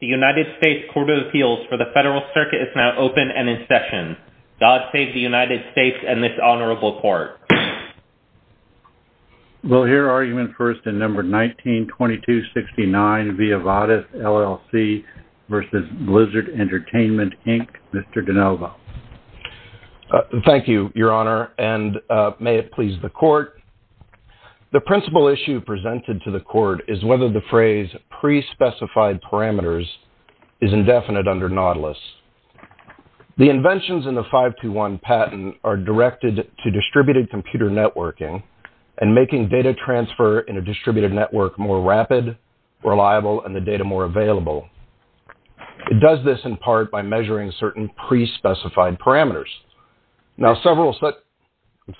The United States Court of Appeals for the Federal Circuit is now open and in session. God save the United States and this honorable court. We'll hear argument first in No. 19-2269, via Vadis, LLC v. Blizzard Entertainment, Inc., Mr. Danova. Thank you, Your Honor, and may it please the court. The principal issue presented to the court is whether the phrase pre-specified parameters is indefinite under Nautilus. The inventions in the 521 patent are directed to distributed computer networking and making data transfer in a distributed network more rapid, reliable, and the data more available. It does this in part by measuring certain pre-specified parameters. Mr.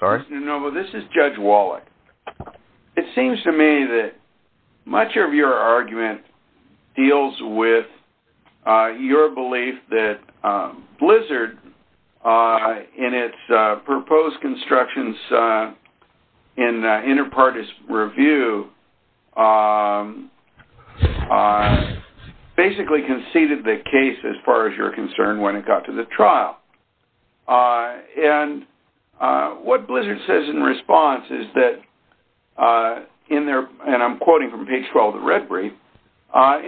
Danova, this is Judge Wallach. It seems to me that much of your argument deals with your belief that Blizzard, in its proposed constructions in inter partes review, basically conceded the case, as far as you're concerned, when it got to the trial. What Blizzard says in response is that, and I'm quoting from page 12 of the red brief,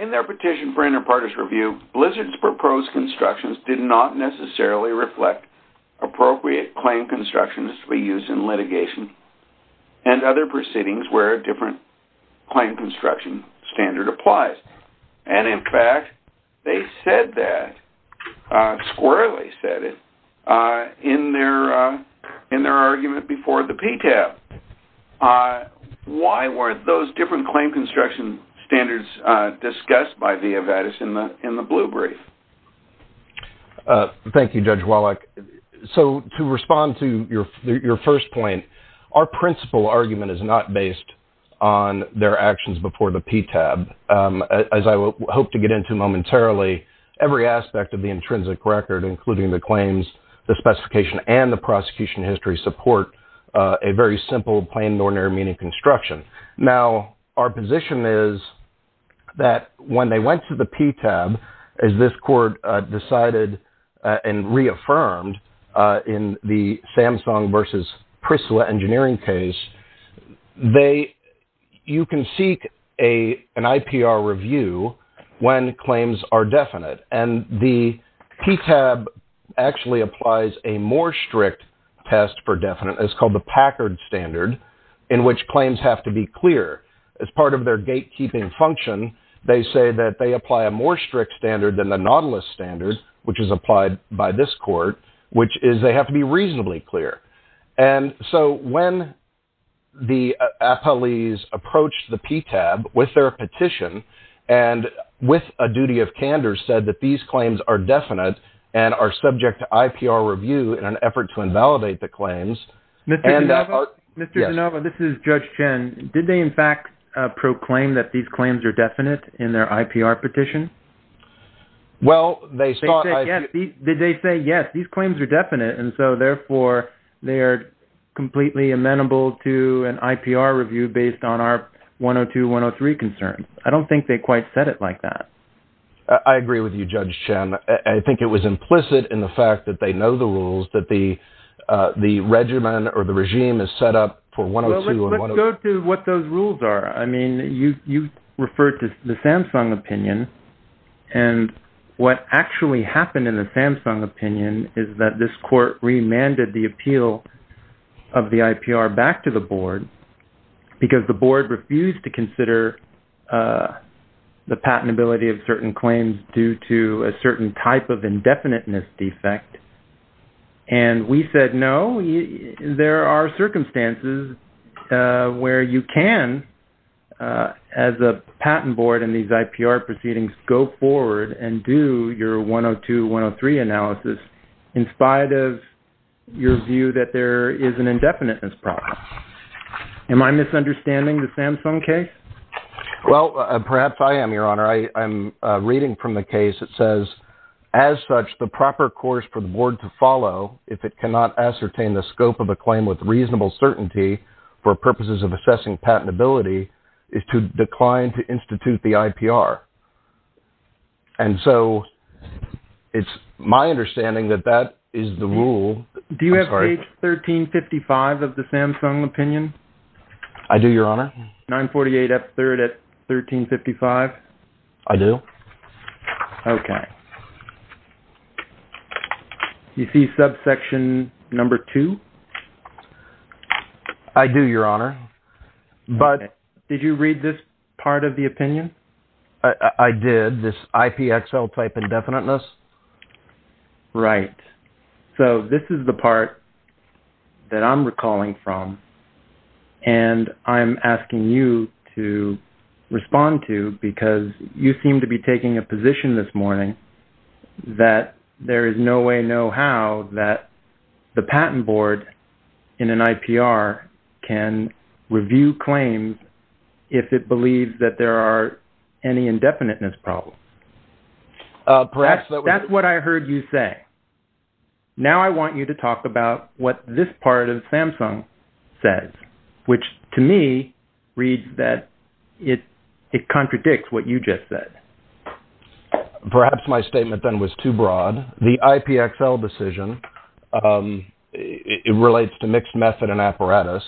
in their petition for inter partes review, Blizzard's proposed constructions did not necessarily reflect appropriate claim constructions to be used in litigation and other proceedings where a different claim construction standard applies. In fact, they said that, squarely said it, in their argument before the PTAB. Why were those different claim construction standards discussed by Via Vatus in the blue brief? Thank you, Judge Wallach. To respond to your first point, our principal argument is not based on their actions before the PTAB. As I hope to get into momentarily, every aspect of the intrinsic record, including the claims, the specification, and the prosecution history, support a very simple plain and ordinary meaning construction. Now, our position is that when they went to the PTAB, as this court decided and reaffirmed in the Samsung versus Prisla engineering case, you can seek an IPR review when claims are definite. The PTAB actually applies a more strict test for definite, it's called the Packard standard, in which claims have to be clear. As part of their gatekeeping function, they say that they apply a more strict standard than the Nautilus standard, which is applied by this court, which is they have to be reasonably clear. And so when the appellees approached the PTAB with their petition and with a duty of candor said that these claims are definite and are subject to IPR review in an effort to invalidate the claims. Mr. DeNova, this is Judge Chen. Did they in fact proclaim that these claims are definite in their IPR petition? They said yes, these claims are definite, and so therefore they are completely amenable to an IPR review based on our 102-103 concerns. I don't think they quite said it like that. I agree with you, Judge Chen. I think it was implicit in the fact that they know the rules that the regimen or the regime is set up for 102-103. Go to what those rules are. I mean, you referred to the Samsung opinion, and what actually happened in the Samsung opinion is that this court remanded the appeal of the IPR back to the board because the board refused to consider the patentability of certain claims due to a certain type of indefiniteness defect. And we said no, there are circumstances where you can, as a patent board in these IPR proceedings, go forward and do your 102-103 analysis in spite of your view that there is an indefiniteness problem. Am I misunderstanding the Samsung case? Well, perhaps I am, Your Honor. I'm reading from the case. It says, as such, the proper course for the board to follow if it cannot ascertain the scope of a claim with reasonable certainty for purposes of assessing patentability is to decline to institute the IPR. And so it's my understanding that that is the rule. Do you have page 1355 of the Samsung opinion? I do, Your Honor. Do you have step 3 at 1355? I do. Okay. You see subsection number 2? I do, Your Honor. But did you read this part of the opinion? I did. This IPXL type indefiniteness. Right. So this is the part that I'm recalling from, and I'm asking you to respond to because you seem to be taking a position this morning that there is no way, no how, that the patent board in an IPR can review claims if it believes that there are any indefiniteness problems. That's what I heard you say. Now I want you to talk about what this part of Samsung says, which to me reads that it contradicts what you just said. Perhaps my statement then was too broad. The IPXL decision, it relates to mixed method and apparatus,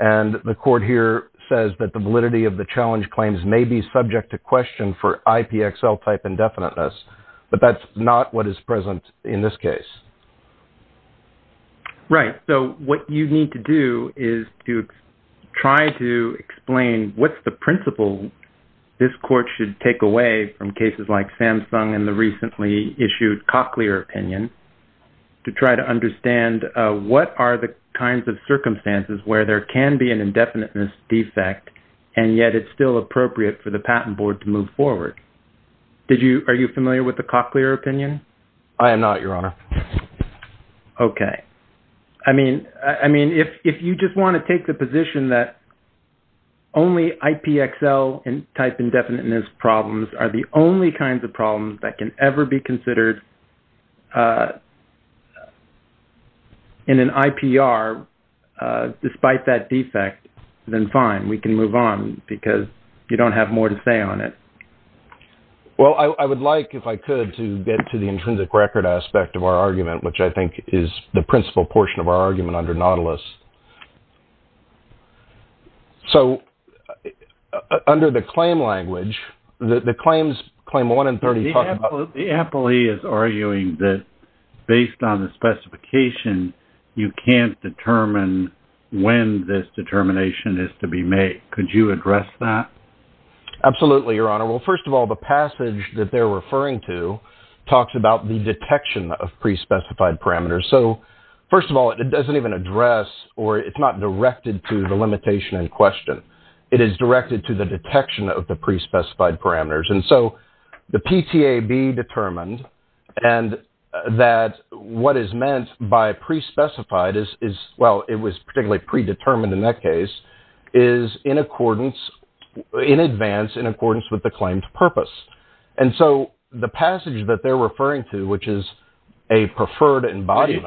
and the court here says that the validity of the challenge claims may be subject to question for IPXL type indefiniteness, but that's not what is present in this case. Right. So what you need to do is to try to explain what's the principle this court should take away from cases like Samsung and the recently issued Cochlear opinion to try to understand what are the kinds of circumstances where there can be an indefiniteness defect, and yet it's still appropriate for the patent board to move forward. Are you familiar with the Cochlear opinion? I am not, Your Honor. Okay. I mean, if you just want to take the position that only IPXL type indefiniteness problems are the only kinds of problems that can ever be considered in an IPR despite that defect, then fine, we can move on because you don't have more to say on it. Well, I would like, if I could, to get to the intrinsic record aspect of our argument, which I think is the principal portion of our argument under Nautilus. So, under the claim language, the claims, claim one and 30… The appellee is arguing that based on the specification, you can't determine when this determination is to be made. Could you address that? Absolutely, Your Honor. Well, first of all, the passage that they're referring to talks about the detection of pre-specified parameters. So, first of all, it doesn't even address or it's not directed to the limitation in question. It is directed to the detection of the pre-specified parameters. And so, the PTAB determined and that what is meant by pre-specified is, well, it was particularly pre-determined in that case, is in accordance, in advance, in accordance with the claimed purpose. And so, the passage that they're referring to, which is a preferred embodiment…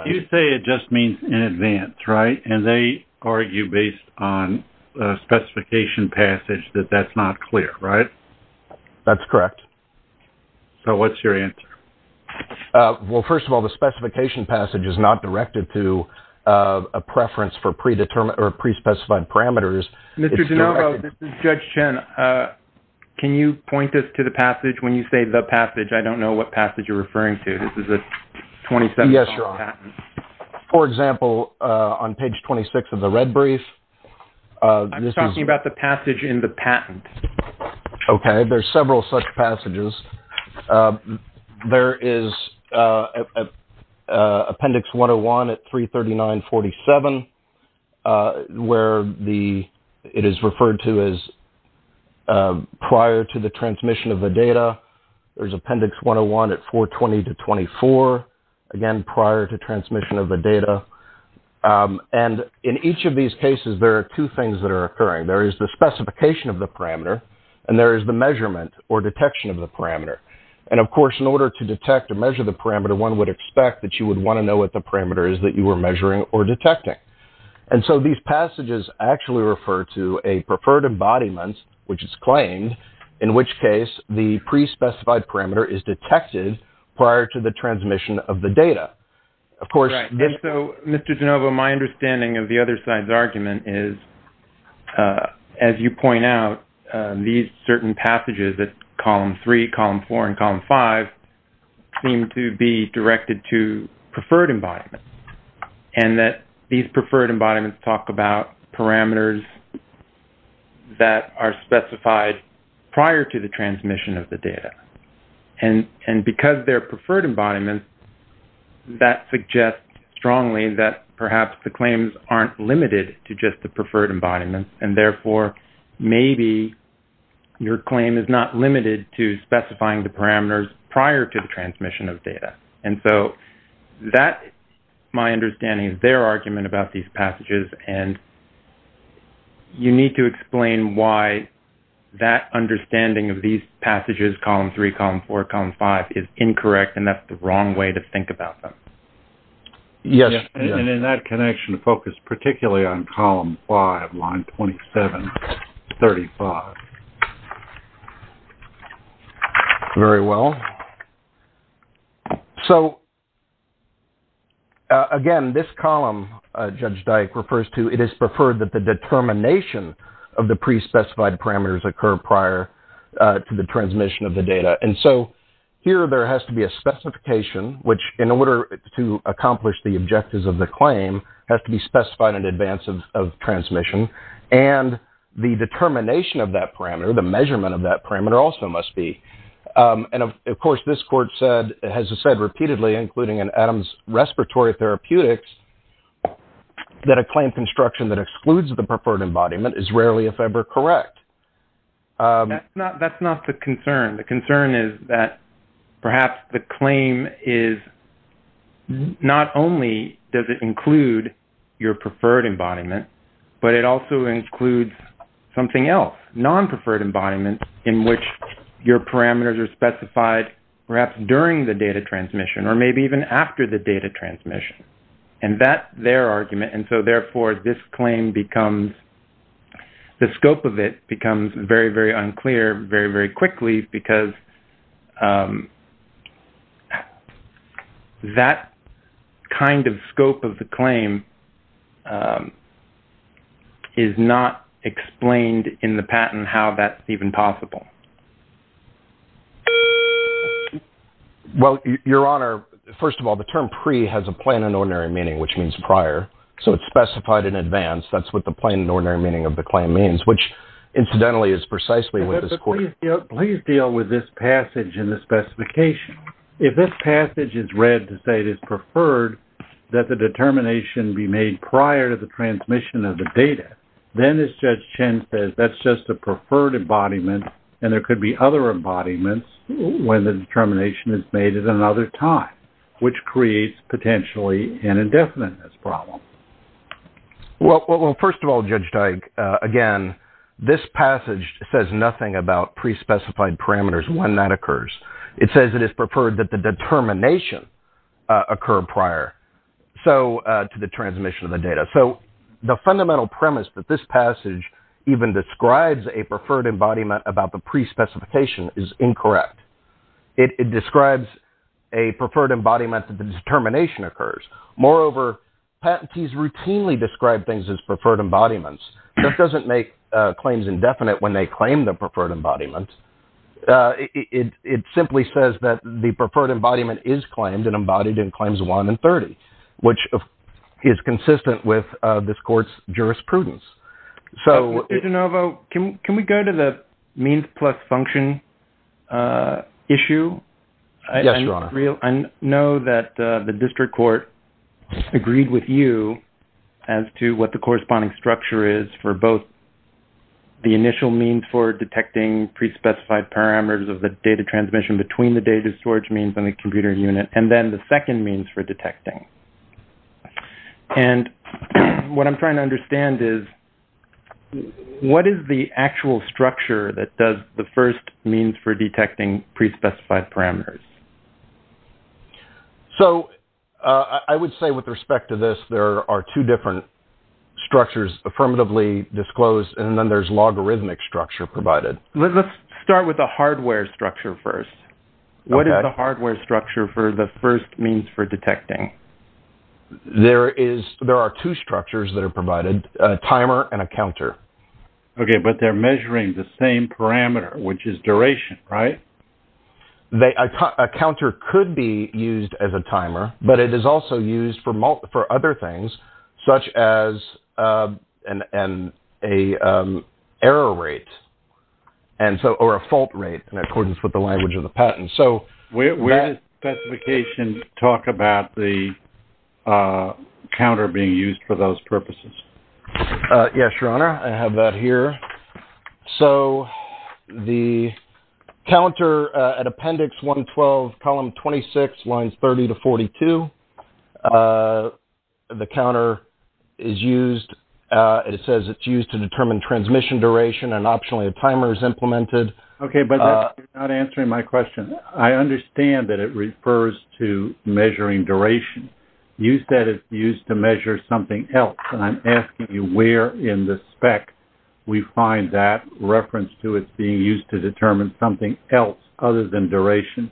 …that that's not clear, right? That's correct. So, what's your answer? Well, first of all, the specification passage is not directed to a preference for pre-determined or pre-specified parameters. Mr. DeNovo, this is Judge Chen. Can you point this to the passage? When you say the passage, I don't know what passage you're referring to. This is a 27… Yes, Your Honor. For example, on page 26 of the red brief… I'm talking about the passage in the patent. Okay. There's several such passages. There is Appendix 101 at 339-47, where it is referred to as prior to the transmission of the data. There's Appendix 101 at 420-24, again, prior to transmission of the data. And in each of these cases, there are two things that are occurring. There is the specification of the parameter, and there is the measurement or detection of the parameter. And, of course, in order to detect or measure the parameter, one would expect that you would want to know what the parameter is that you were measuring or detecting. And so, these passages actually refer to a preferred embodiment, which is claimed, in which case the pre-specified parameter is detected prior to the transmission of the data. And so, Mr. De Novo, my understanding of the other side's argument is, as you point out, these certain passages at Column 3, Column 4, and Column 5 seem to be directed to preferred embodiments, and that these preferred embodiments talk about parameters that are specified prior to the transmission of the data. And because they're preferred embodiments, that suggests strongly that perhaps the claims aren't limited to just the preferred embodiments, and therefore maybe your claim is not limited to specifying the parameters prior to the transmission of data. And so, that, my understanding, is their argument about these passages, and you need to explain why that understanding of these passages, Column 3, Column 4, and Column 5, is incorrect, and that's the wrong way to think about them. Yes. And in that connection, focus particularly on Column 5, Line 2735. Very well. So, again, this column, Judge Dyke refers to, it is preferred that the determination of the pre-specified parameters occur prior to the transmission of the data. And so, here there has to be a specification, which, in order to accomplish the objectives of the claim, has to be specified in advance of transmission, and the determination of that parameter, the measurement of that parameter, also must be. And, of course, this court has said repeatedly, including in Adams Respiratory Therapeutics, that a claim construction that excludes the preferred embodiment is rarely, if ever, correct. That's not the concern. The concern is that perhaps the claim is, not only does it include your preferred embodiment, but it also includes something else, non-preferred embodiment, in which your parameters are specified perhaps during the data transmission, or maybe even after the data transmission. And that's their argument. And so, therefore, this claim becomes, the scope of it becomes very, very unclear very, very quickly because that kind of scope of the claim is not explained in the patent how that's even possible. Well, Your Honor, first of all, the term pre has a plain and ordinary meaning, which means prior. So, it's specified in advance. That's what the plain and ordinary meaning of the claim means, which, incidentally, is precisely what this court… Please deal with this passage in the specification. If this passage is read to say it is preferred that the determination be made prior to the transmission of the data, then, as Judge Chen says, that's just a preferred embodiment, and there could be other embodiments when the determination is made at another time, which creates, potentially, an indefiniteness problem. Well, first of all, Judge Dyke, again, this passage says nothing about pre-specified parameters, when that occurs. It says it is preferred that the determination occur prior to the transmission of the data. So, the fundamental premise that this passage even describes a preferred embodiment about the pre-specification is incorrect. It describes a preferred embodiment that the determination occurs. Moreover, patentees routinely describe things as preferred embodiments. This doesn't make claims indefinite when they claim the preferred embodiment. It simply says that the preferred embodiment is claimed and embodied in Claims 1 and 30, which is consistent with this court's jurisprudence. So, Mr. De Novo, can we go to the means plus function issue? Yes, Your Honor. I know that the district court agreed with you as to what the corresponding structure is for both the initial means for detecting pre-specified parameters of the data transmission between the data storage means and the computer unit, and then the second means for detecting. And what I'm trying to understand is, what is the actual structure that does the first means for detecting pre-specified parameters? So, I would say with respect to this, there are two different structures affirmatively disclosed, and then there's logarithmic structure provided. Let's start with the hardware structure first. What is the hardware structure for the first means for detecting? There are two structures that are provided, a timer and a counter. Okay, but they're measuring the same parameter, which is duration, right? A counter could be used as a timer, but it is also used for other things, such as an error rate or a fault rate in accordance with the language of the patent. Where does the specification talk about the counter being used for those purposes? Yes, Your Honor, I have that here. So, the counter at Appendix 112, Column 26, Lines 30 to 42, the counter is used. It says it's used to determine transmission duration, and optionally a timer is implemented. Okay, but you're not answering my question. I understand that it refers to measuring duration. You said it's used to measure something else, and I'm asking you where in the spec we find that reference to it being used to determine something else other than duration.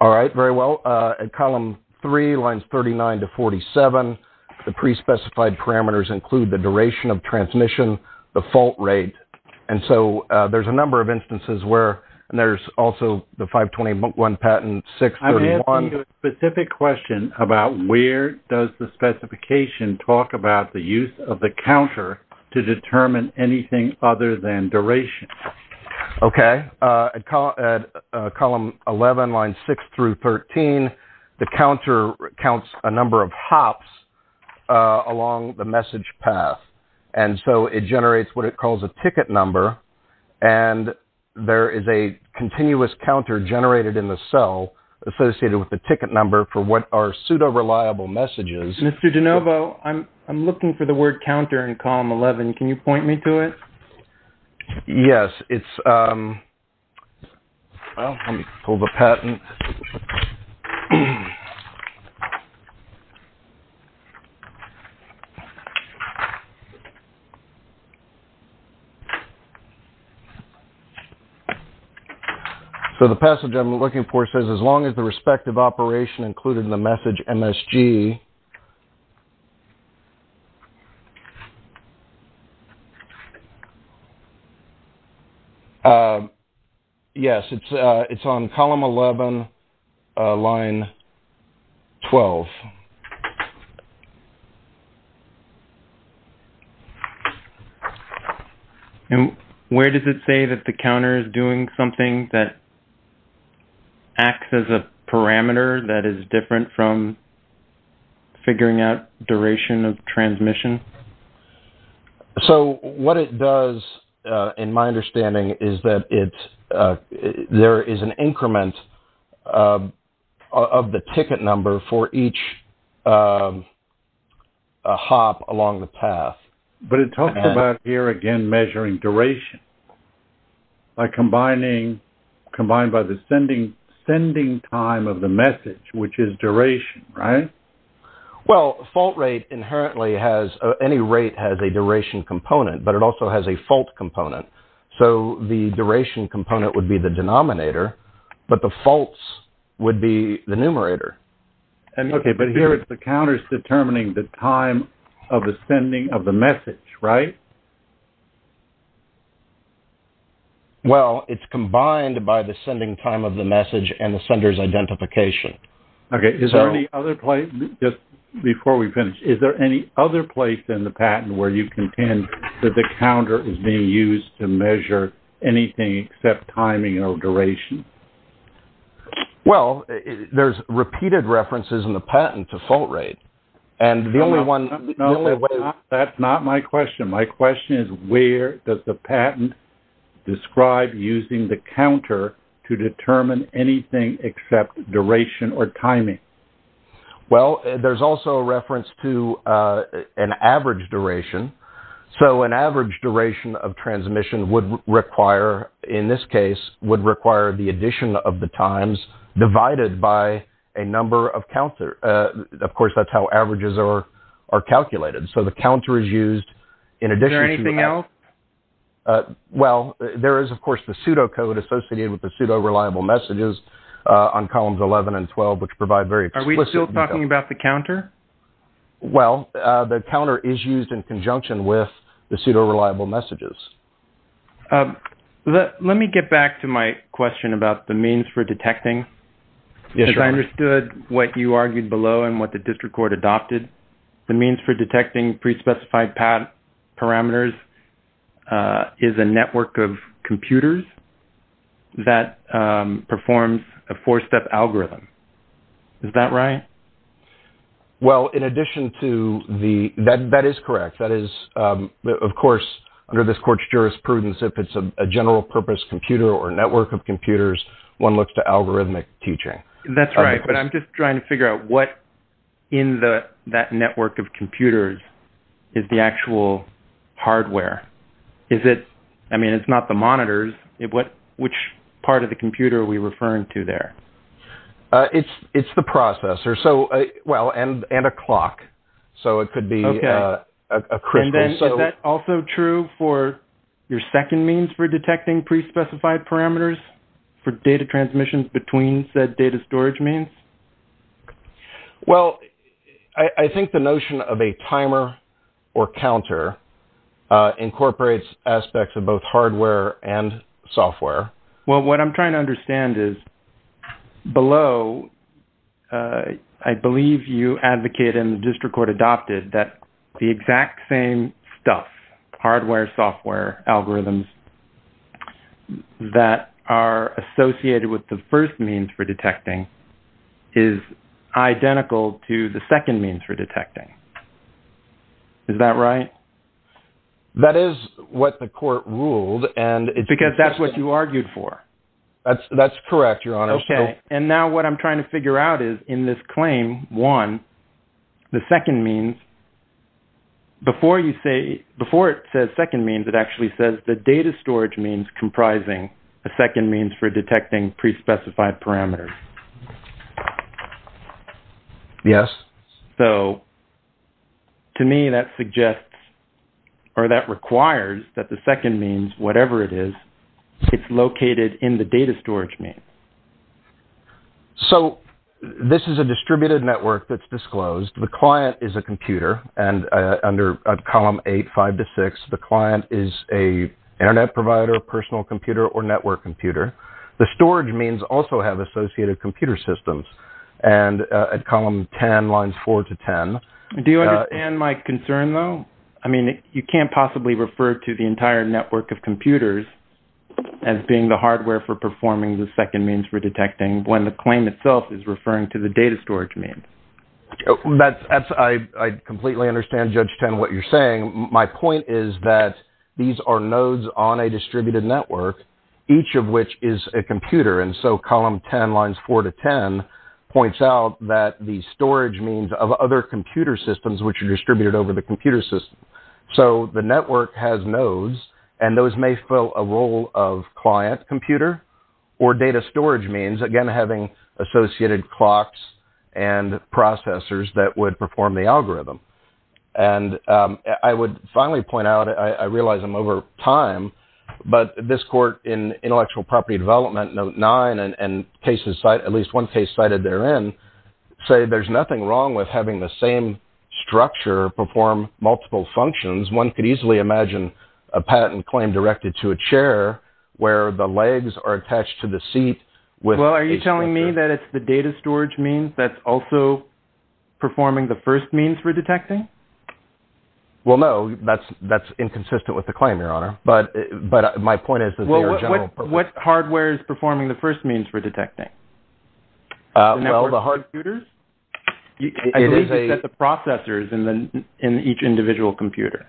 All right, very well. At Column 3, Lines 39 to 47, the pre-specified parameters include the duration of transmission, the fault rate. And so, there's a number of instances where, and there's also the 521 Patent 631. I need a specific question about where does the specification talk about the use of the counter to determine anything other than duration? Okay, at Column 11, Lines 6 through 13, the counter counts a number of hops along the message path. And so, it generates what it calls a ticket number, and there is a continuous counter generated in the cell associated with the ticket number for what are pseudo-reliable messages. Mr. DeNovo, I'm looking for the word counter in Column 11. Can you point me to it? Yes, it's, um, well, let me pull the patent. So, the passage I'm looking for says, as long as the respective operation included in the message MSG. Yes, it's on Column 11, Line 12. And where does it say that the counter is doing something that acts as a parameter that is different from figuring out duration of transmission? So, what it does, in my understanding, is that it's, there is an increment of the ticket number for each hop along the path. But it talks about here, again, measuring duration by combining, combined by the sending time of the message, which is duration, right? Well, fault rate inherently has, any rate has a duration component, but it also has a fault component. So, the duration component would be the denominator, but the faults would be the numerator. Okay, but here it's the counters determining the time of the sending of the message, right? Well, it's combined by the sending time of the message and the sender's identification. Okay, is there any other place, just before we finish, is there any other place in the patent where you contend that the counter is being used to measure anything except timing or duration? Well, there's repeated references in the patent to fault rate. No, that's not my question. My question is, where does the patent describe using the counter to determine anything except duration or timing? Well, there's also a reference to an average duration. So, an average duration of transmission would require, in this case, would require the addition of the times divided by a number of counters. Of course, that's how averages are calculated. So, the counter is used in addition to... Is there anything else? Well, there is, of course, the pseudocode associated with the pseudo-reliable messages on columns 11 and 12, which provide very explicit... Are we still talking about the counter? Well, the counter is used in conjunction with the pseudo-reliable messages. Let me get back to my question about the means for detecting. Because I understood what you argued below and what the district court adopted. The means for detecting pre-specified parameters is a network of computers that performs a four-step algorithm. Is that right? Well, in addition to the... That is correct. That is, of course, under this court's jurisprudence, if it's a general-purpose computer or network of computers, one looks to algorithmic teaching. That's right, but I'm just trying to figure out what in that network of computers is the actual hardware. Is it... I mean, it's not the monitors. Which part of the computer are we referring to there? It's the processor. So, well, and a clock. So, it could be... Okay. And then, is that also true for your second means for detecting pre-specified parameters for data transmissions between said data storage means? Well, I think the notion of a timer or counter incorporates aspects of both hardware and software. Well, what I'm trying to understand is below, I believe you advocated and the district court adopted that the exact same stuff, hardware, software, algorithms, that are associated with the first means for detecting is identical to the second means for detecting. Is that right? That is what the court ruled and... Because that's what you argued for. That's correct, Your Honor. Okay. And now what I'm trying to figure out is in this claim, one, the second means, before it says second means, it actually says the data storage means comprising the second means for detecting pre-specified parameters. Yes. So, to me, that suggests or that requires that the second means, whatever it is, it's located in the data storage means. So, this is a distributed network that's disclosed. The client is a computer and under column eight, five to six, the client is a internet provider, personal computer or network computer. The storage means also have associated computer systems and at column 10, lines four to 10. Do you understand my concern though? I mean, you can't possibly refer to the entire network of computers as being the hardware for performing the second means for detecting when the claim itself is referring to the data storage means. I completely understand, Judge Ten, what you're saying. My point is that these are nodes on a distributed network, each of which is a computer. And so column 10, lines four to 10, points out that the storage means of other computer systems which are distributed over the computer system. So, the network has nodes and those may fill a role of client computer or data storage means, again, having associated clocks and processors that would perform the algorithm. And I would finally point out, I realize I'm over time, but this court in intellectual property development, note nine, and at least one case cited therein, say there's nothing wrong with having the same structure perform multiple functions. One could easily imagine a patent claim directed to a chair where the legs are attached to the seat. Well, are you telling me that it's the data storage means that's also performing the first means for detecting? Well, no, that's inconsistent with the claim, Your Honor, but my point is that they are general purposes. What hardware is performing the first means for detecting? Well, the hard computers. I believe that the processors in each individual computer.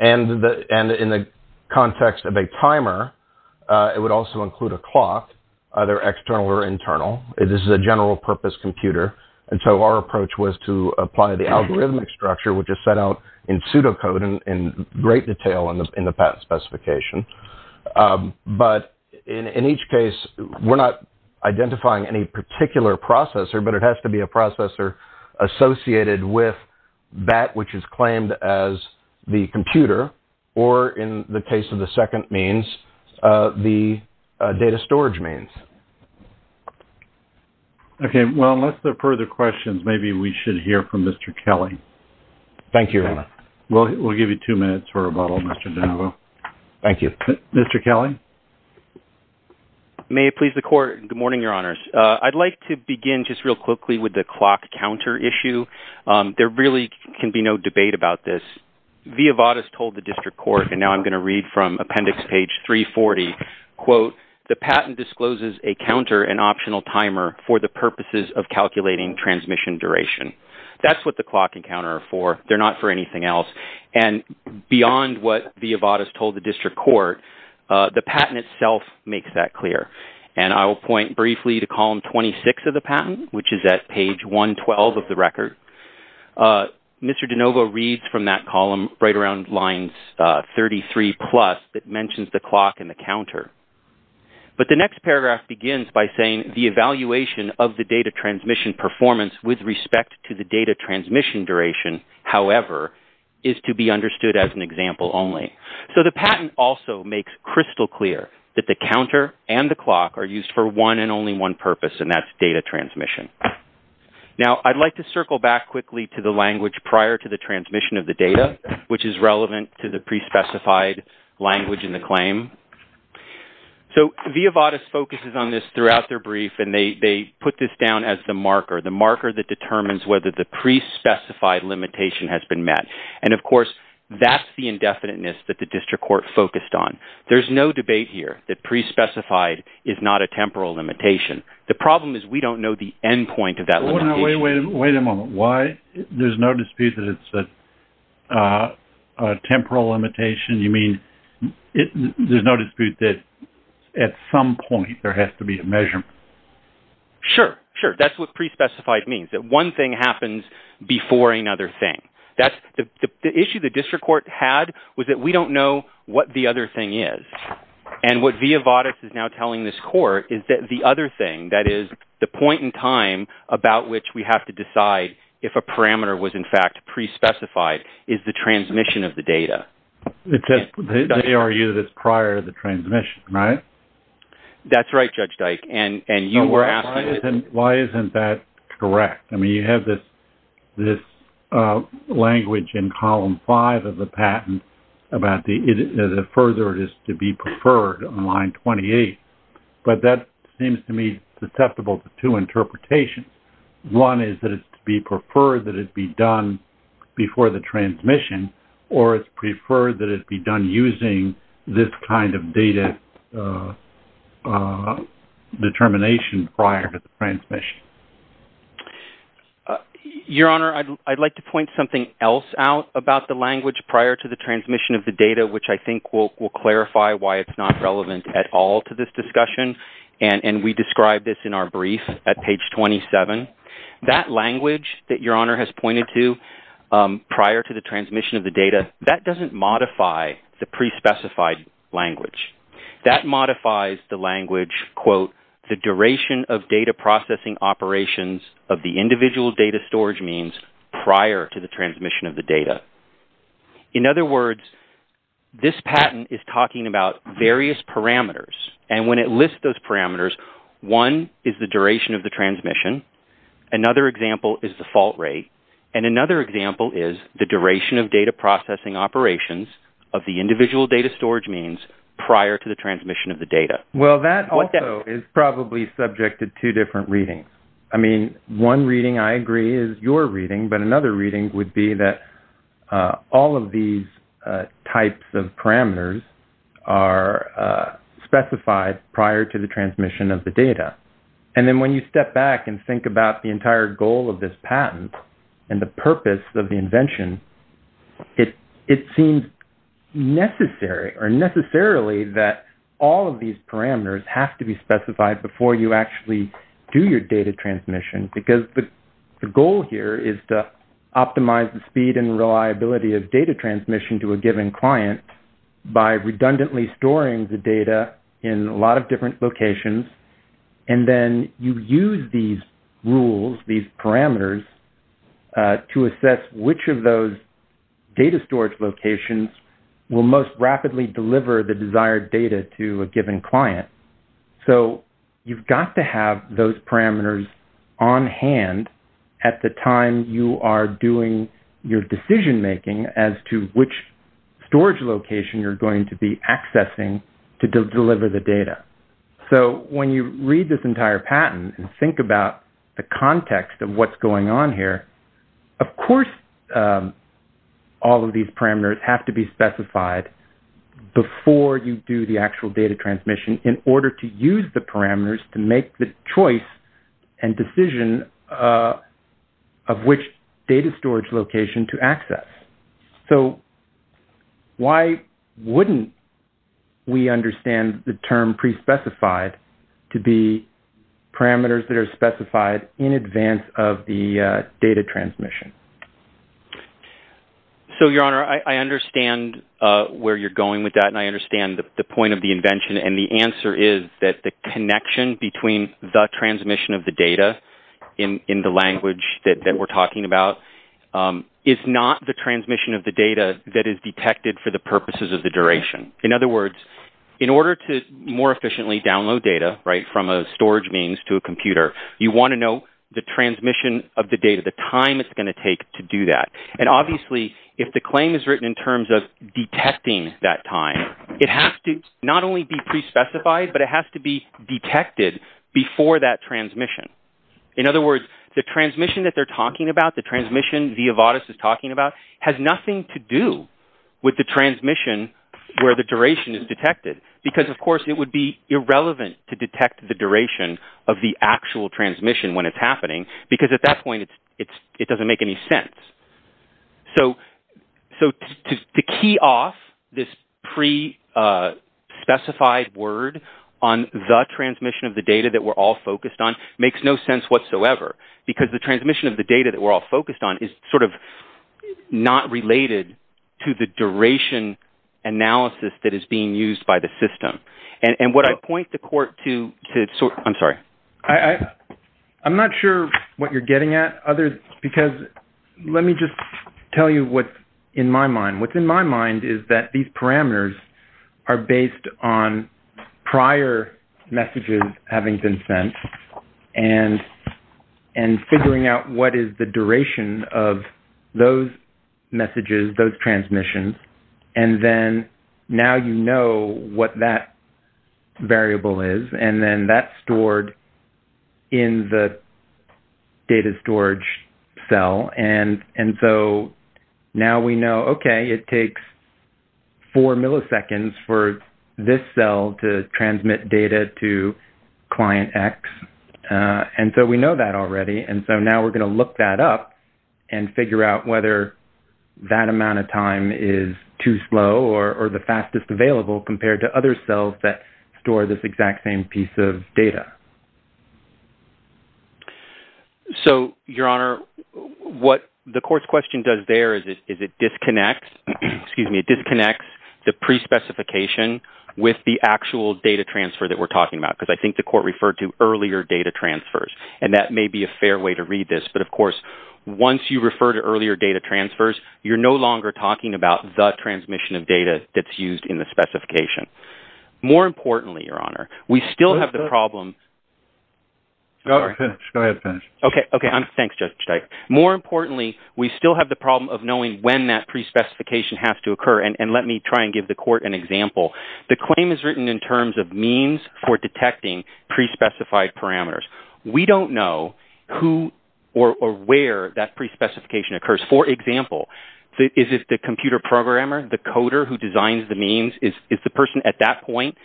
And in the context of a timer, it would also include a clock, either external or internal. This is a general purpose computer, and so our approach was to apply the algorithmic structure, which is set out in pseudocode in great detail in the patent specification. But in each case, we're not identifying any particular processor, but it has to be a processor associated with that which is claimed as the computer, or in the case of the second means, the data storage means. Okay, well, unless there are further questions, maybe we should hear from Mr. Kelly. Thank you, Your Honor. We'll give you two minutes for rebuttal, Mr. Danvo. Mr. Kelly? May it please the Court. Good morning, Your Honors. I'd like to begin just real quickly with the clock counter issue. There really can be no debate about this. Via Vadas told the District Court, and now I'm going to read from appendix page 340, quote, the patent discloses a counter, an optional timer, for the purposes of calculating transmission duration. That's what the clock and counter are for. They're not for anything else. And beyond what Via Vadas told the District Court, the patent itself makes that clear. And I will point briefly to column 26 of the patent, which is at page 112 of the record. Mr. Danvo reads from that column right around lines 33 plus that mentions the clock and the counter. But the next paragraph begins by saying, the evaluation of the data transmission performance with respect to the data transmission duration, however, is to be understood as an example only. So, the patent also makes crystal clear that the counter and the clock are used for one and only one purpose, and that's data transmission. Now, I'd like to circle back quickly to the language prior to the transmission of the data, which is relevant to the pre-specified language in the claim. So, Via Vadas focuses on this throughout their brief, and they put this down as the marker, the marker that determines whether the pre-specified limitation has been met. And, of course, that's the indefiniteness that the District Court focused on. There's no debate here that pre-specified is not a temporal limitation. The problem is we don't know the endpoint of that limitation. Wait a moment. Why? There's no dispute that it's a temporal limitation? You mean there's no dispute that at some point there has to be a measurement? Sure. Sure. That's what pre-specified means, that one thing happens before another thing. The issue the District Court had was that we don't know what the other thing is. And what Via Vadas is now telling this Court is that the other thing, that is, the point in time about which we have to decide if a parameter was, in fact, pre-specified, is the transmission of the data. They argue that it's prior to the transmission, right? That's right, Judge Dyke. Why isn't that correct? I mean, you have this language in Column 5 of the patent about the further it is to be preferred on Line 28. But that seems to me susceptible to two interpretations. One is that it's to be preferred that it be done before the transmission, or it's preferred that it be done using this kind of data determination prior to the transmission. Your Honor, I'd like to point something else out about the language prior to the transmission of the data, which I think will clarify why it's not relevant at all to this discussion. And we describe this in our brief at Page 27. That language that Your Honor has pointed to prior to the transmission of the data, that doesn't modify the pre-specified language. That modifies the language, quote, the duration of data processing operations of the individual data storage means prior to the transmission of the data. In other words, this patent is talking about various parameters. And when it lists those parameters, one is the duration of the transmission. Another example is the fault rate. And another example is the duration of data processing operations of the individual data storage means prior to the transmission of the data. Well, that also is probably subject to two different readings. I mean, one reading I agree is your reading, but another reading would be that all of these types of parameters are specified prior to the transmission of the data. And then when you step back and think about the entire goal of this patent and the purpose of the invention, it seems necessary or necessarily that all of these parameters have to be specified before you actually do your data transmission because the goal here is to optimize the speed and reliability of data transmission to a given client by redundantly storing the data in a lot of different locations. And then you use these rules, these parameters, to assess which of those data storage locations will most rapidly deliver the desired data to a given client. So, you've got to have those parameters on hand at the time you are doing your decision-making as to which storage location you're going to be accessing to deliver the data. So, when you read this entire patent and think about the context of what's going on here, of course all of these parameters have to be specified before you do the actual data transmission in order to use the parameters to make the choice and decision of which data storage location to access. So, why wouldn't we understand the term pre-specified to be parameters that are specified in advance of the data transmission? So, Your Honor, I understand where you're going with that and I understand the point of the invention. And the answer is that the connection between the transmission of the data in the language that we're talking about is not the transmission of the data that is detected for the purposes of the duration. In other words, in order to more efficiently download data from a storage means to a computer, you want to know the transmission of the data, the time it's going to take to do that. And obviously, if the claim is written in terms of detecting that time, it has to not only be pre-specified, but it has to be detected before that transmission. In other words, the transmission that they're talking about, the transmission Viavatis is talking about, has nothing to do with the transmission where the duration is detected. Because, of course, it would be irrelevant to detect the duration of the actual transmission when it's happening, because at that point it doesn't make any sense. So, to key off this pre-specified word on the transmission of the data that we're all focused on makes no sense whatsoever, because the transmission of the data that we're all focused on is sort of not related to the duration analysis that is being used by the system. And what I point the court to... I'm sorry. I'm not sure what you're getting at, because let me just tell you what's in my mind. What's in my mind is that these parameters are based on prior messages having been sent and figuring out what is the duration of those messages, those transmissions. And then now you know what that variable is, and then that's stored in the data storage cell. And so now we know, okay, it takes four milliseconds for this cell to transmit data to client X. And so we know that already, and so now we're going to look that up and figure out whether that amount of time is too slow or the fastest available compared to other cells that store this exact same piece of data. So, Your Honor, what the court's question does there is it disconnects the pre-specification with the actual data transfer that we're talking about, because I think the court referred to earlier data transfers. And that may be a fair way to read this, but of course, once you refer to earlier data transfers, you're no longer talking about the transmission of data that's used in the specification. More importantly, Your Honor, we still have the problem... Go ahead, finish. Okay, thanks, Judge Steich. More importantly, we still have the problem of knowing when that pre-specification has to occur. And let me try and give the court an example. The claim is written in terms of means for detecting pre-specified parameters. We don't know who or where that pre-specification occurs. For example, is it the computer programmer, the coder who designs the means, is the person at that point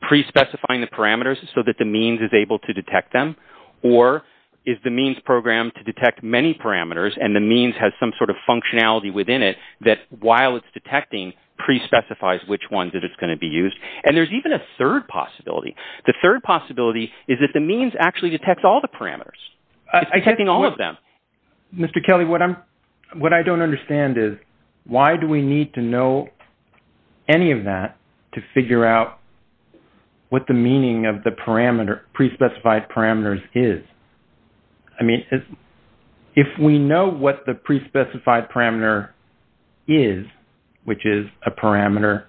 pre-specifying the parameters so that the means is able to detect them? Or is the means programmed to detect many parameters, and the means has some sort of functionality within it that, while it's detecting, pre-specifies which ones that it's going to be used? And there's even a third possibility. The third possibility is that the means actually detects all the parameters. It's detecting all of them. Mr. Kelly, what I don't understand is, why do we need to know any of that to figure out what the meaning of the pre-specified parameters is? I mean, if we know what the pre-specified parameter is, which is a parameter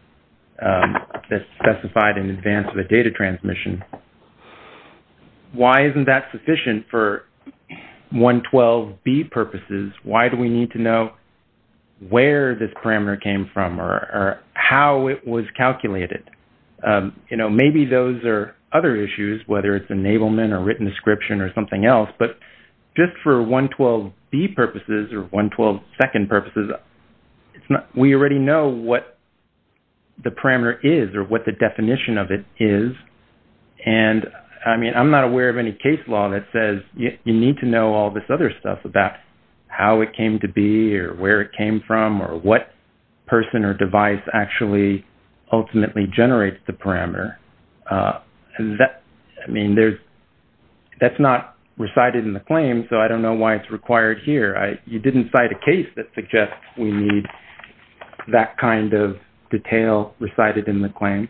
that's specified in advance of a data transmission, why isn't that sufficient for 112B purposes? Why do we need to know where this parameter came from or how it was calculated? You know, maybe those are other issues, whether it's enablement or written description or something else. But just for 112B purposes or 112 second purposes, we already know what the parameter is or what the definition of it is. And, I mean, I'm not aware of any case law that says you need to know all this other stuff about how it came to be or where it came from or what person or device actually ultimately generates the parameter. I mean, that's not recited in the claim, so I don't know why it's required here. You didn't cite a case that suggests we need that kind of detail recited in the claim.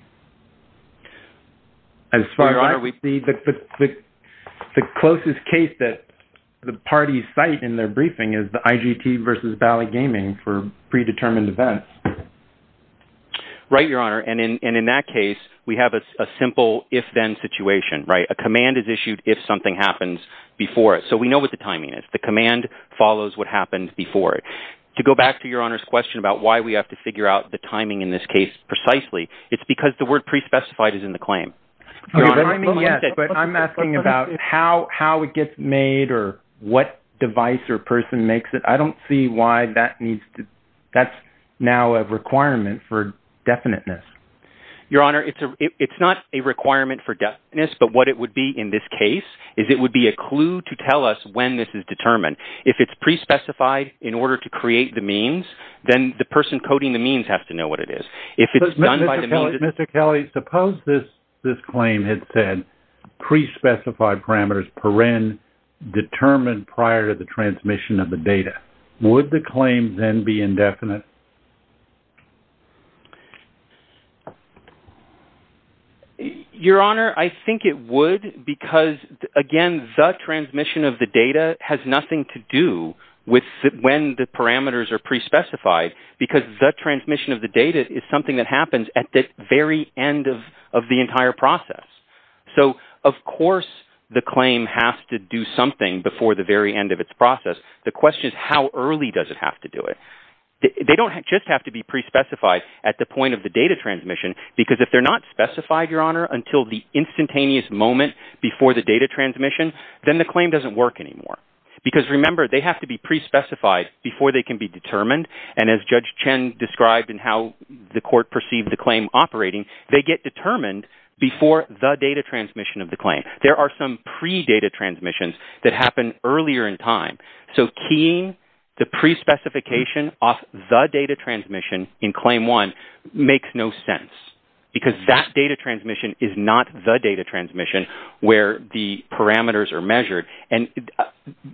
Your Honor, we see the closest case that the parties cite in their briefing is the IGT versus Valley Gaming for predetermined events. Right, Your Honor. And in that case, we have a simple if-then situation, right? A command is issued if something happens before it. So we know what the timing is. The command follows what happened before it. To go back to Your Honor's question about why we have to figure out the timing in this case precisely, it's because the word pre-specified is in the claim. I'm asking about how it gets made or what device or person makes it. I don't see why that needs to – that's now a requirement for definiteness. Your Honor, it's not a requirement for definiteness, but what it would be in this case is it would be a clue to tell us when this is determined. If it's pre-specified in order to create the means, then the person coding the means has to know what it is. If it's done by the means – Mr. Kelly, suppose this claim had said pre-specified parameters, paren, determined prior to the transmission of the data. Would the claim then be indefinite? Your Honor, I think it would because, again, the transmission of the data has nothing to do with when the parameters are pre-specified because the transmission of the data is something that happens at the very end of the entire process. So, of course, the claim has to do something before the very end of its process. The question is how early does it have to do it? They don't just have to be pre-specified at the point of the data transmission because if they're not specified, Your Honor, until the instantaneous moment before the data transmission, then the claim doesn't work anymore. Because, remember, they have to be pre-specified before they can be determined, and as Judge Chen described in how the court perceived the claim operating, they get determined before the data transmission of the claim. There are some pre-data transmissions that happen earlier in time. So, keying the pre-specification off the data transmission in Claim 1 makes no sense because that data transmission is not the data transmission where the parameters are measured. And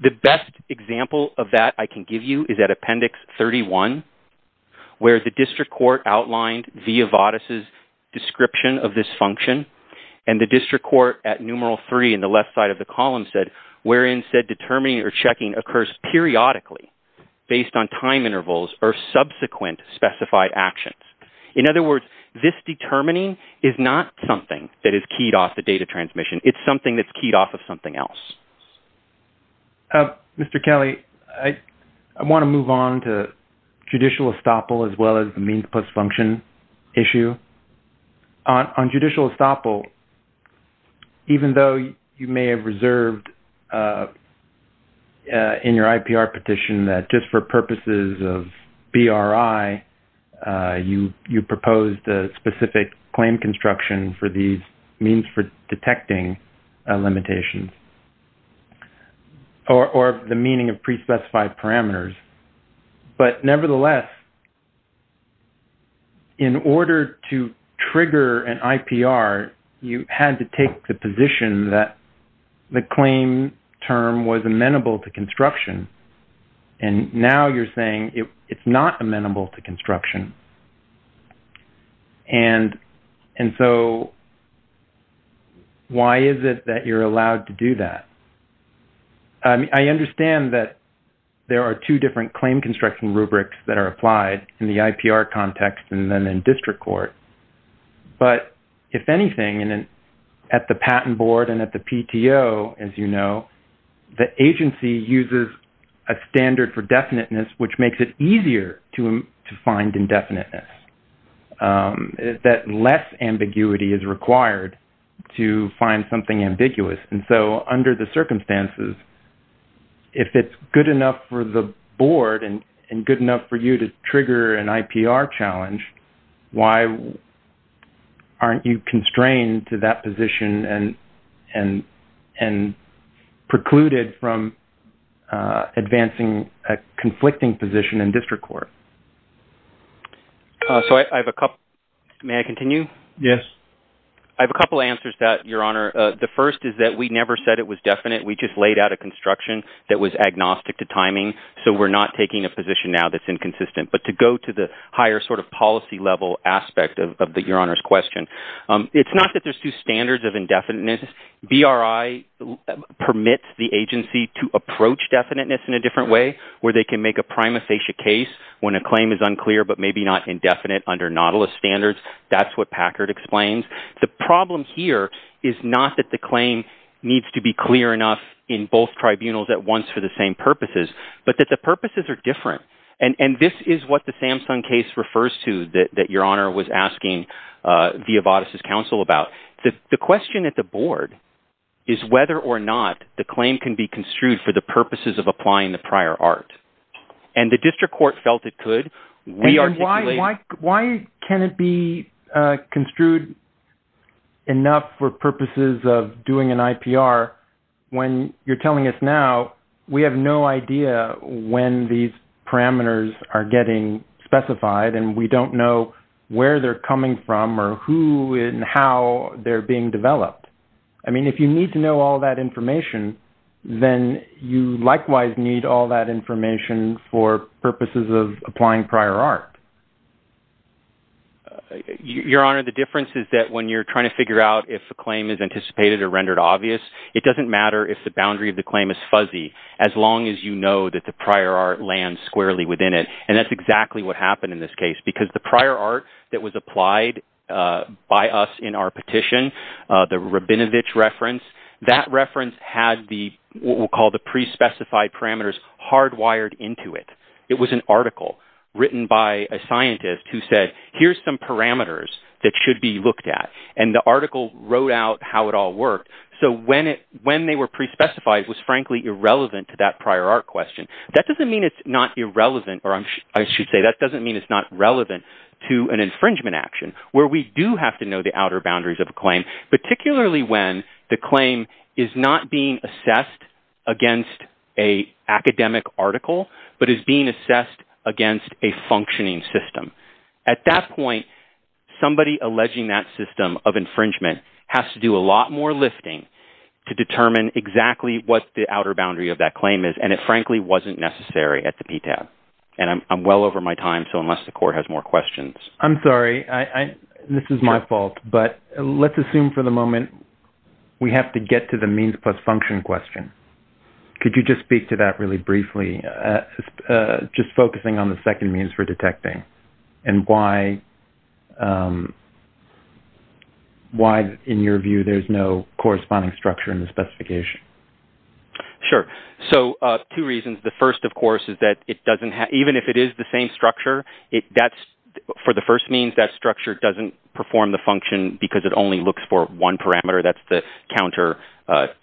the best example of that I can give you is at Appendix 31 where the district court outlined Zia Vadas' description of this function and the district court at Numeral 3 in the left side of the column said, determining or checking occurs periodically based on time intervals or subsequent specified actions. In other words, this determining is not something that is keyed off the data transmission. It's something that's keyed off of something else. Mr. Kelly, I want to move on to judicial estoppel as well as the means plus function issue. On judicial estoppel, even though you may have reserved in your IPR petition that just for purposes of BRI, you proposed a specific claim construction for these means for detecting limitations or the meaning of pre-specified parameters, but nevertheless, in order to trigger an IPR, you had to take the position that the claim term was amenable to construction. And now you're saying it's not amenable to construction. And so, why is it that you're allowed to do that? I understand that there are two different claim construction rubrics that are applied in the IPR context and then in district court. But if anything, at the patent board and at the PTO, as you know, the agency uses a standard for definiteness, which makes it easier to find indefiniteness. That less ambiguity is required to find something ambiguous. And so, under the circumstances, if it's good enough for the board and good enough for you to trigger an IPR challenge, why aren't you constrained to that position and precluded from advancing a conflicting position in district court? May I continue? I have a couple of answers to that, Your Honor. One is that we never said it was definite. We just laid out a construction that was agnostic to timing, so we're not taking a position now that's inconsistent. But to go to the higher sort of policy level aspect of Your Honor's question, it's not that there's two standards of indefiniteness. BRI permits the agency to approach definiteness in a different way where they can make a prima facie case when a claim is unclear, but maybe not indefinite under Nautilus standards. That's what Packard explains. The problem here is not that the claim needs to be clear enough in both tribunals at once for the same purposes, but that the purposes are different. And this is what the Samson case refers to that Your Honor was asking Viovatis' counsel about. The question at the board is whether or not the claim can be construed for the purposes of applying the prior art. And the district court felt it could. And why can it be construed enough for purposes of doing an IPR when you're telling us now we have no idea when these parameters are getting specified and we don't know where they're coming from or who and how they're being developed. I mean, if you need to know all that information, then you likewise need all that information for purposes of applying prior art. Your Honor, the difference is that when you're trying to figure out if a claim is anticipated or rendered obvious, it doesn't matter if the boundary of the claim is fuzzy as long as you know that the prior art lands squarely within it. And that's exactly what happened in this case because the prior art that was applied by us in our petition, the Rabinovich reference, that reference had what we'll call the pre-specified parameters hardwired into it. It was an article written by a scientist who said, here's some parameters that should be looked at. And the article wrote out how it all worked. So when they were pre-specified, it was frankly irrelevant to that prior art question. That doesn't mean it's not irrelevant, or I should say that doesn't mean it's not relevant to an infringement action where we do have to know the outer boundaries of a claim, particularly when the claim is not being assessed against an academic article, but is being assessed against a functioning system. At that point, somebody alleging that system of infringement has to do a lot more lifting to determine exactly what the outer boundary of that claim is. And it frankly wasn't necessary at the PTAP. And I'm well over my time, so unless the court has more questions. I'm sorry. This is my fault. But let's assume for the moment we have to get to the means plus function question. Could you just speak to that really briefly? Just focusing on the second means for detecting and why in your view there's no corresponding structure in the specification. Sure. So two reasons. The first, of course, is that it doesn't have, even if it is the same structure, that's for the first means that structure doesn't perform the function because it only looks for one parameter. That's the counter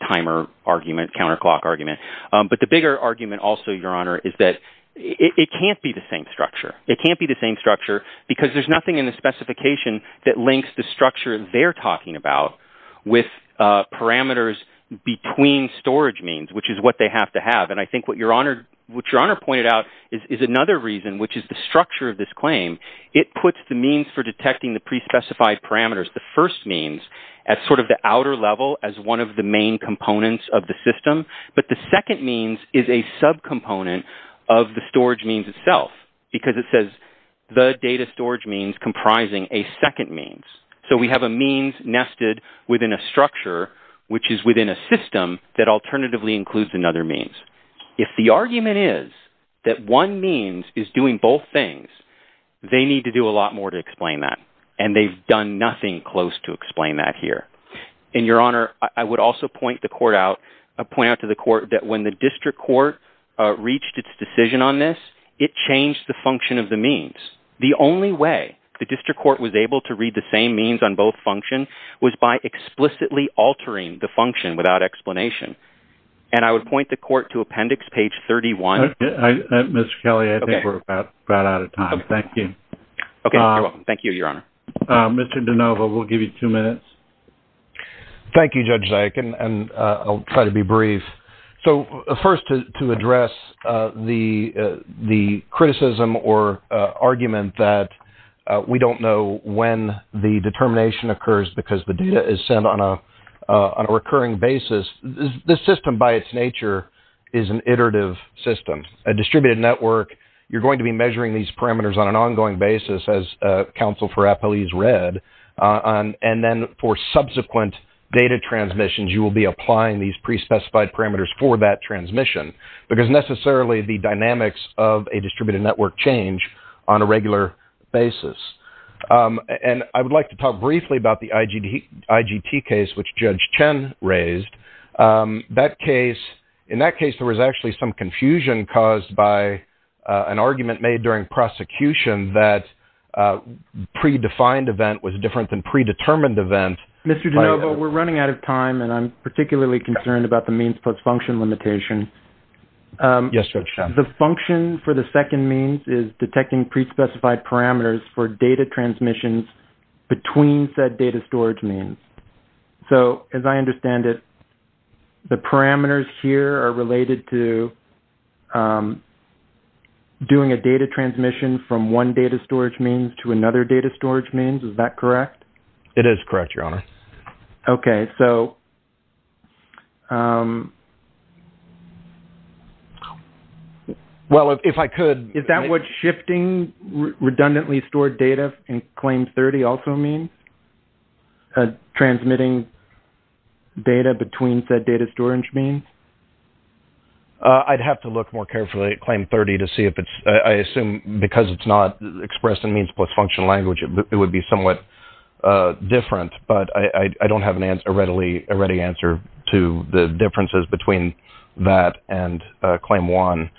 timer argument, the counter clock argument. But the bigger argument also, Your Honor, is that it can't be the same structure. It can't be the same structure because there's nothing in the specification that links the structure they're talking about with parameters between storage means, which is what they have to have. And I think what Your Honor pointed out is another reason, which is the structure of this claim. It puts the means for detecting the pre-specified parameters, the first means, at sort of the outer level as one of the main components of the system. But the second means is a subcomponent of the storage means itself because it says the data storage means comprising a second means. So we have a means nested within a structure, which is within a system that alternatively includes another means. If the argument is that one means is doing both things, they need to do a lot more to explain that. And they've done nothing close to explain that here. And Your Honor, I would also point the court out, point out to the court that when the district court reached its decision on this, it changed the function of the means. The only way the district court was able to read the same means on both functions was by explicitly altering the function without explanation. And I would point the court to appendix page 31. Mr. Kelly, I think we're about out of time. Thank you. Thank you, Your Honor. Mr. Denova, we'll give you two minutes. Thank you, Judge Zayach, and I'll try to be brief. So first to address the criticism or argument that we don't know when the determination occurs because the data is sent on a recurring basis, this system by its nature is an iterative system, a distributed network. You're going to be measuring these parameters on an ongoing basis, as counsel for appellees read. And then for subsequent data transmissions, you will be applying these pre-specified parameters for that transmission because necessarily the dynamics of a distributed network change on a regular basis. And I would like to talk briefly about the IGT case, which Judge Chen raised. In that case, there was actually some confusion caused by an argument made during prosecution that predefined event was different than predetermined event. Mr. Denova, we're running out of time, and I'm particularly concerned about the means plus function limitation. Yes, Judge Chen. The function for the second means is detecting pre-specified parameters for data transmissions between said data storage means. So as I understand it, the parameters here are related to doing a data transmission from one data storage means to another data storage means. Is that correct? It is correct, Your Honor. Okay, so... Well, if I could... Is that what shifting redundantly stored data in Claim 30 also means? Transmitting data between said data storage means? I'd have to look more carefully at Claim 30 to see if it's... I assume because it's not expressed in means plus function language, it would be somewhat different, but I don't have a ready answer to the differences between that and Claim 1.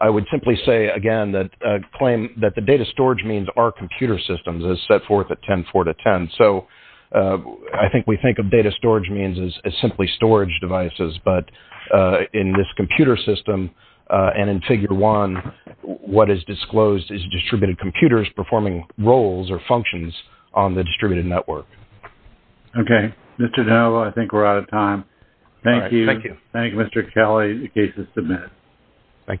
I would simply say, again, that the data storage means are computer systems as set forth at 10.4.10. So I think we think of data storage means as simply storage devices, in this computer system, and in Figure 1, what is disclosed is distributed computers performing roles or functions on the distributed network. Okay, Mr. Danilo, I think we're out of time. Thank you. Thank you. Thank you, Mr. Kelly. The case is submitted. Thank you.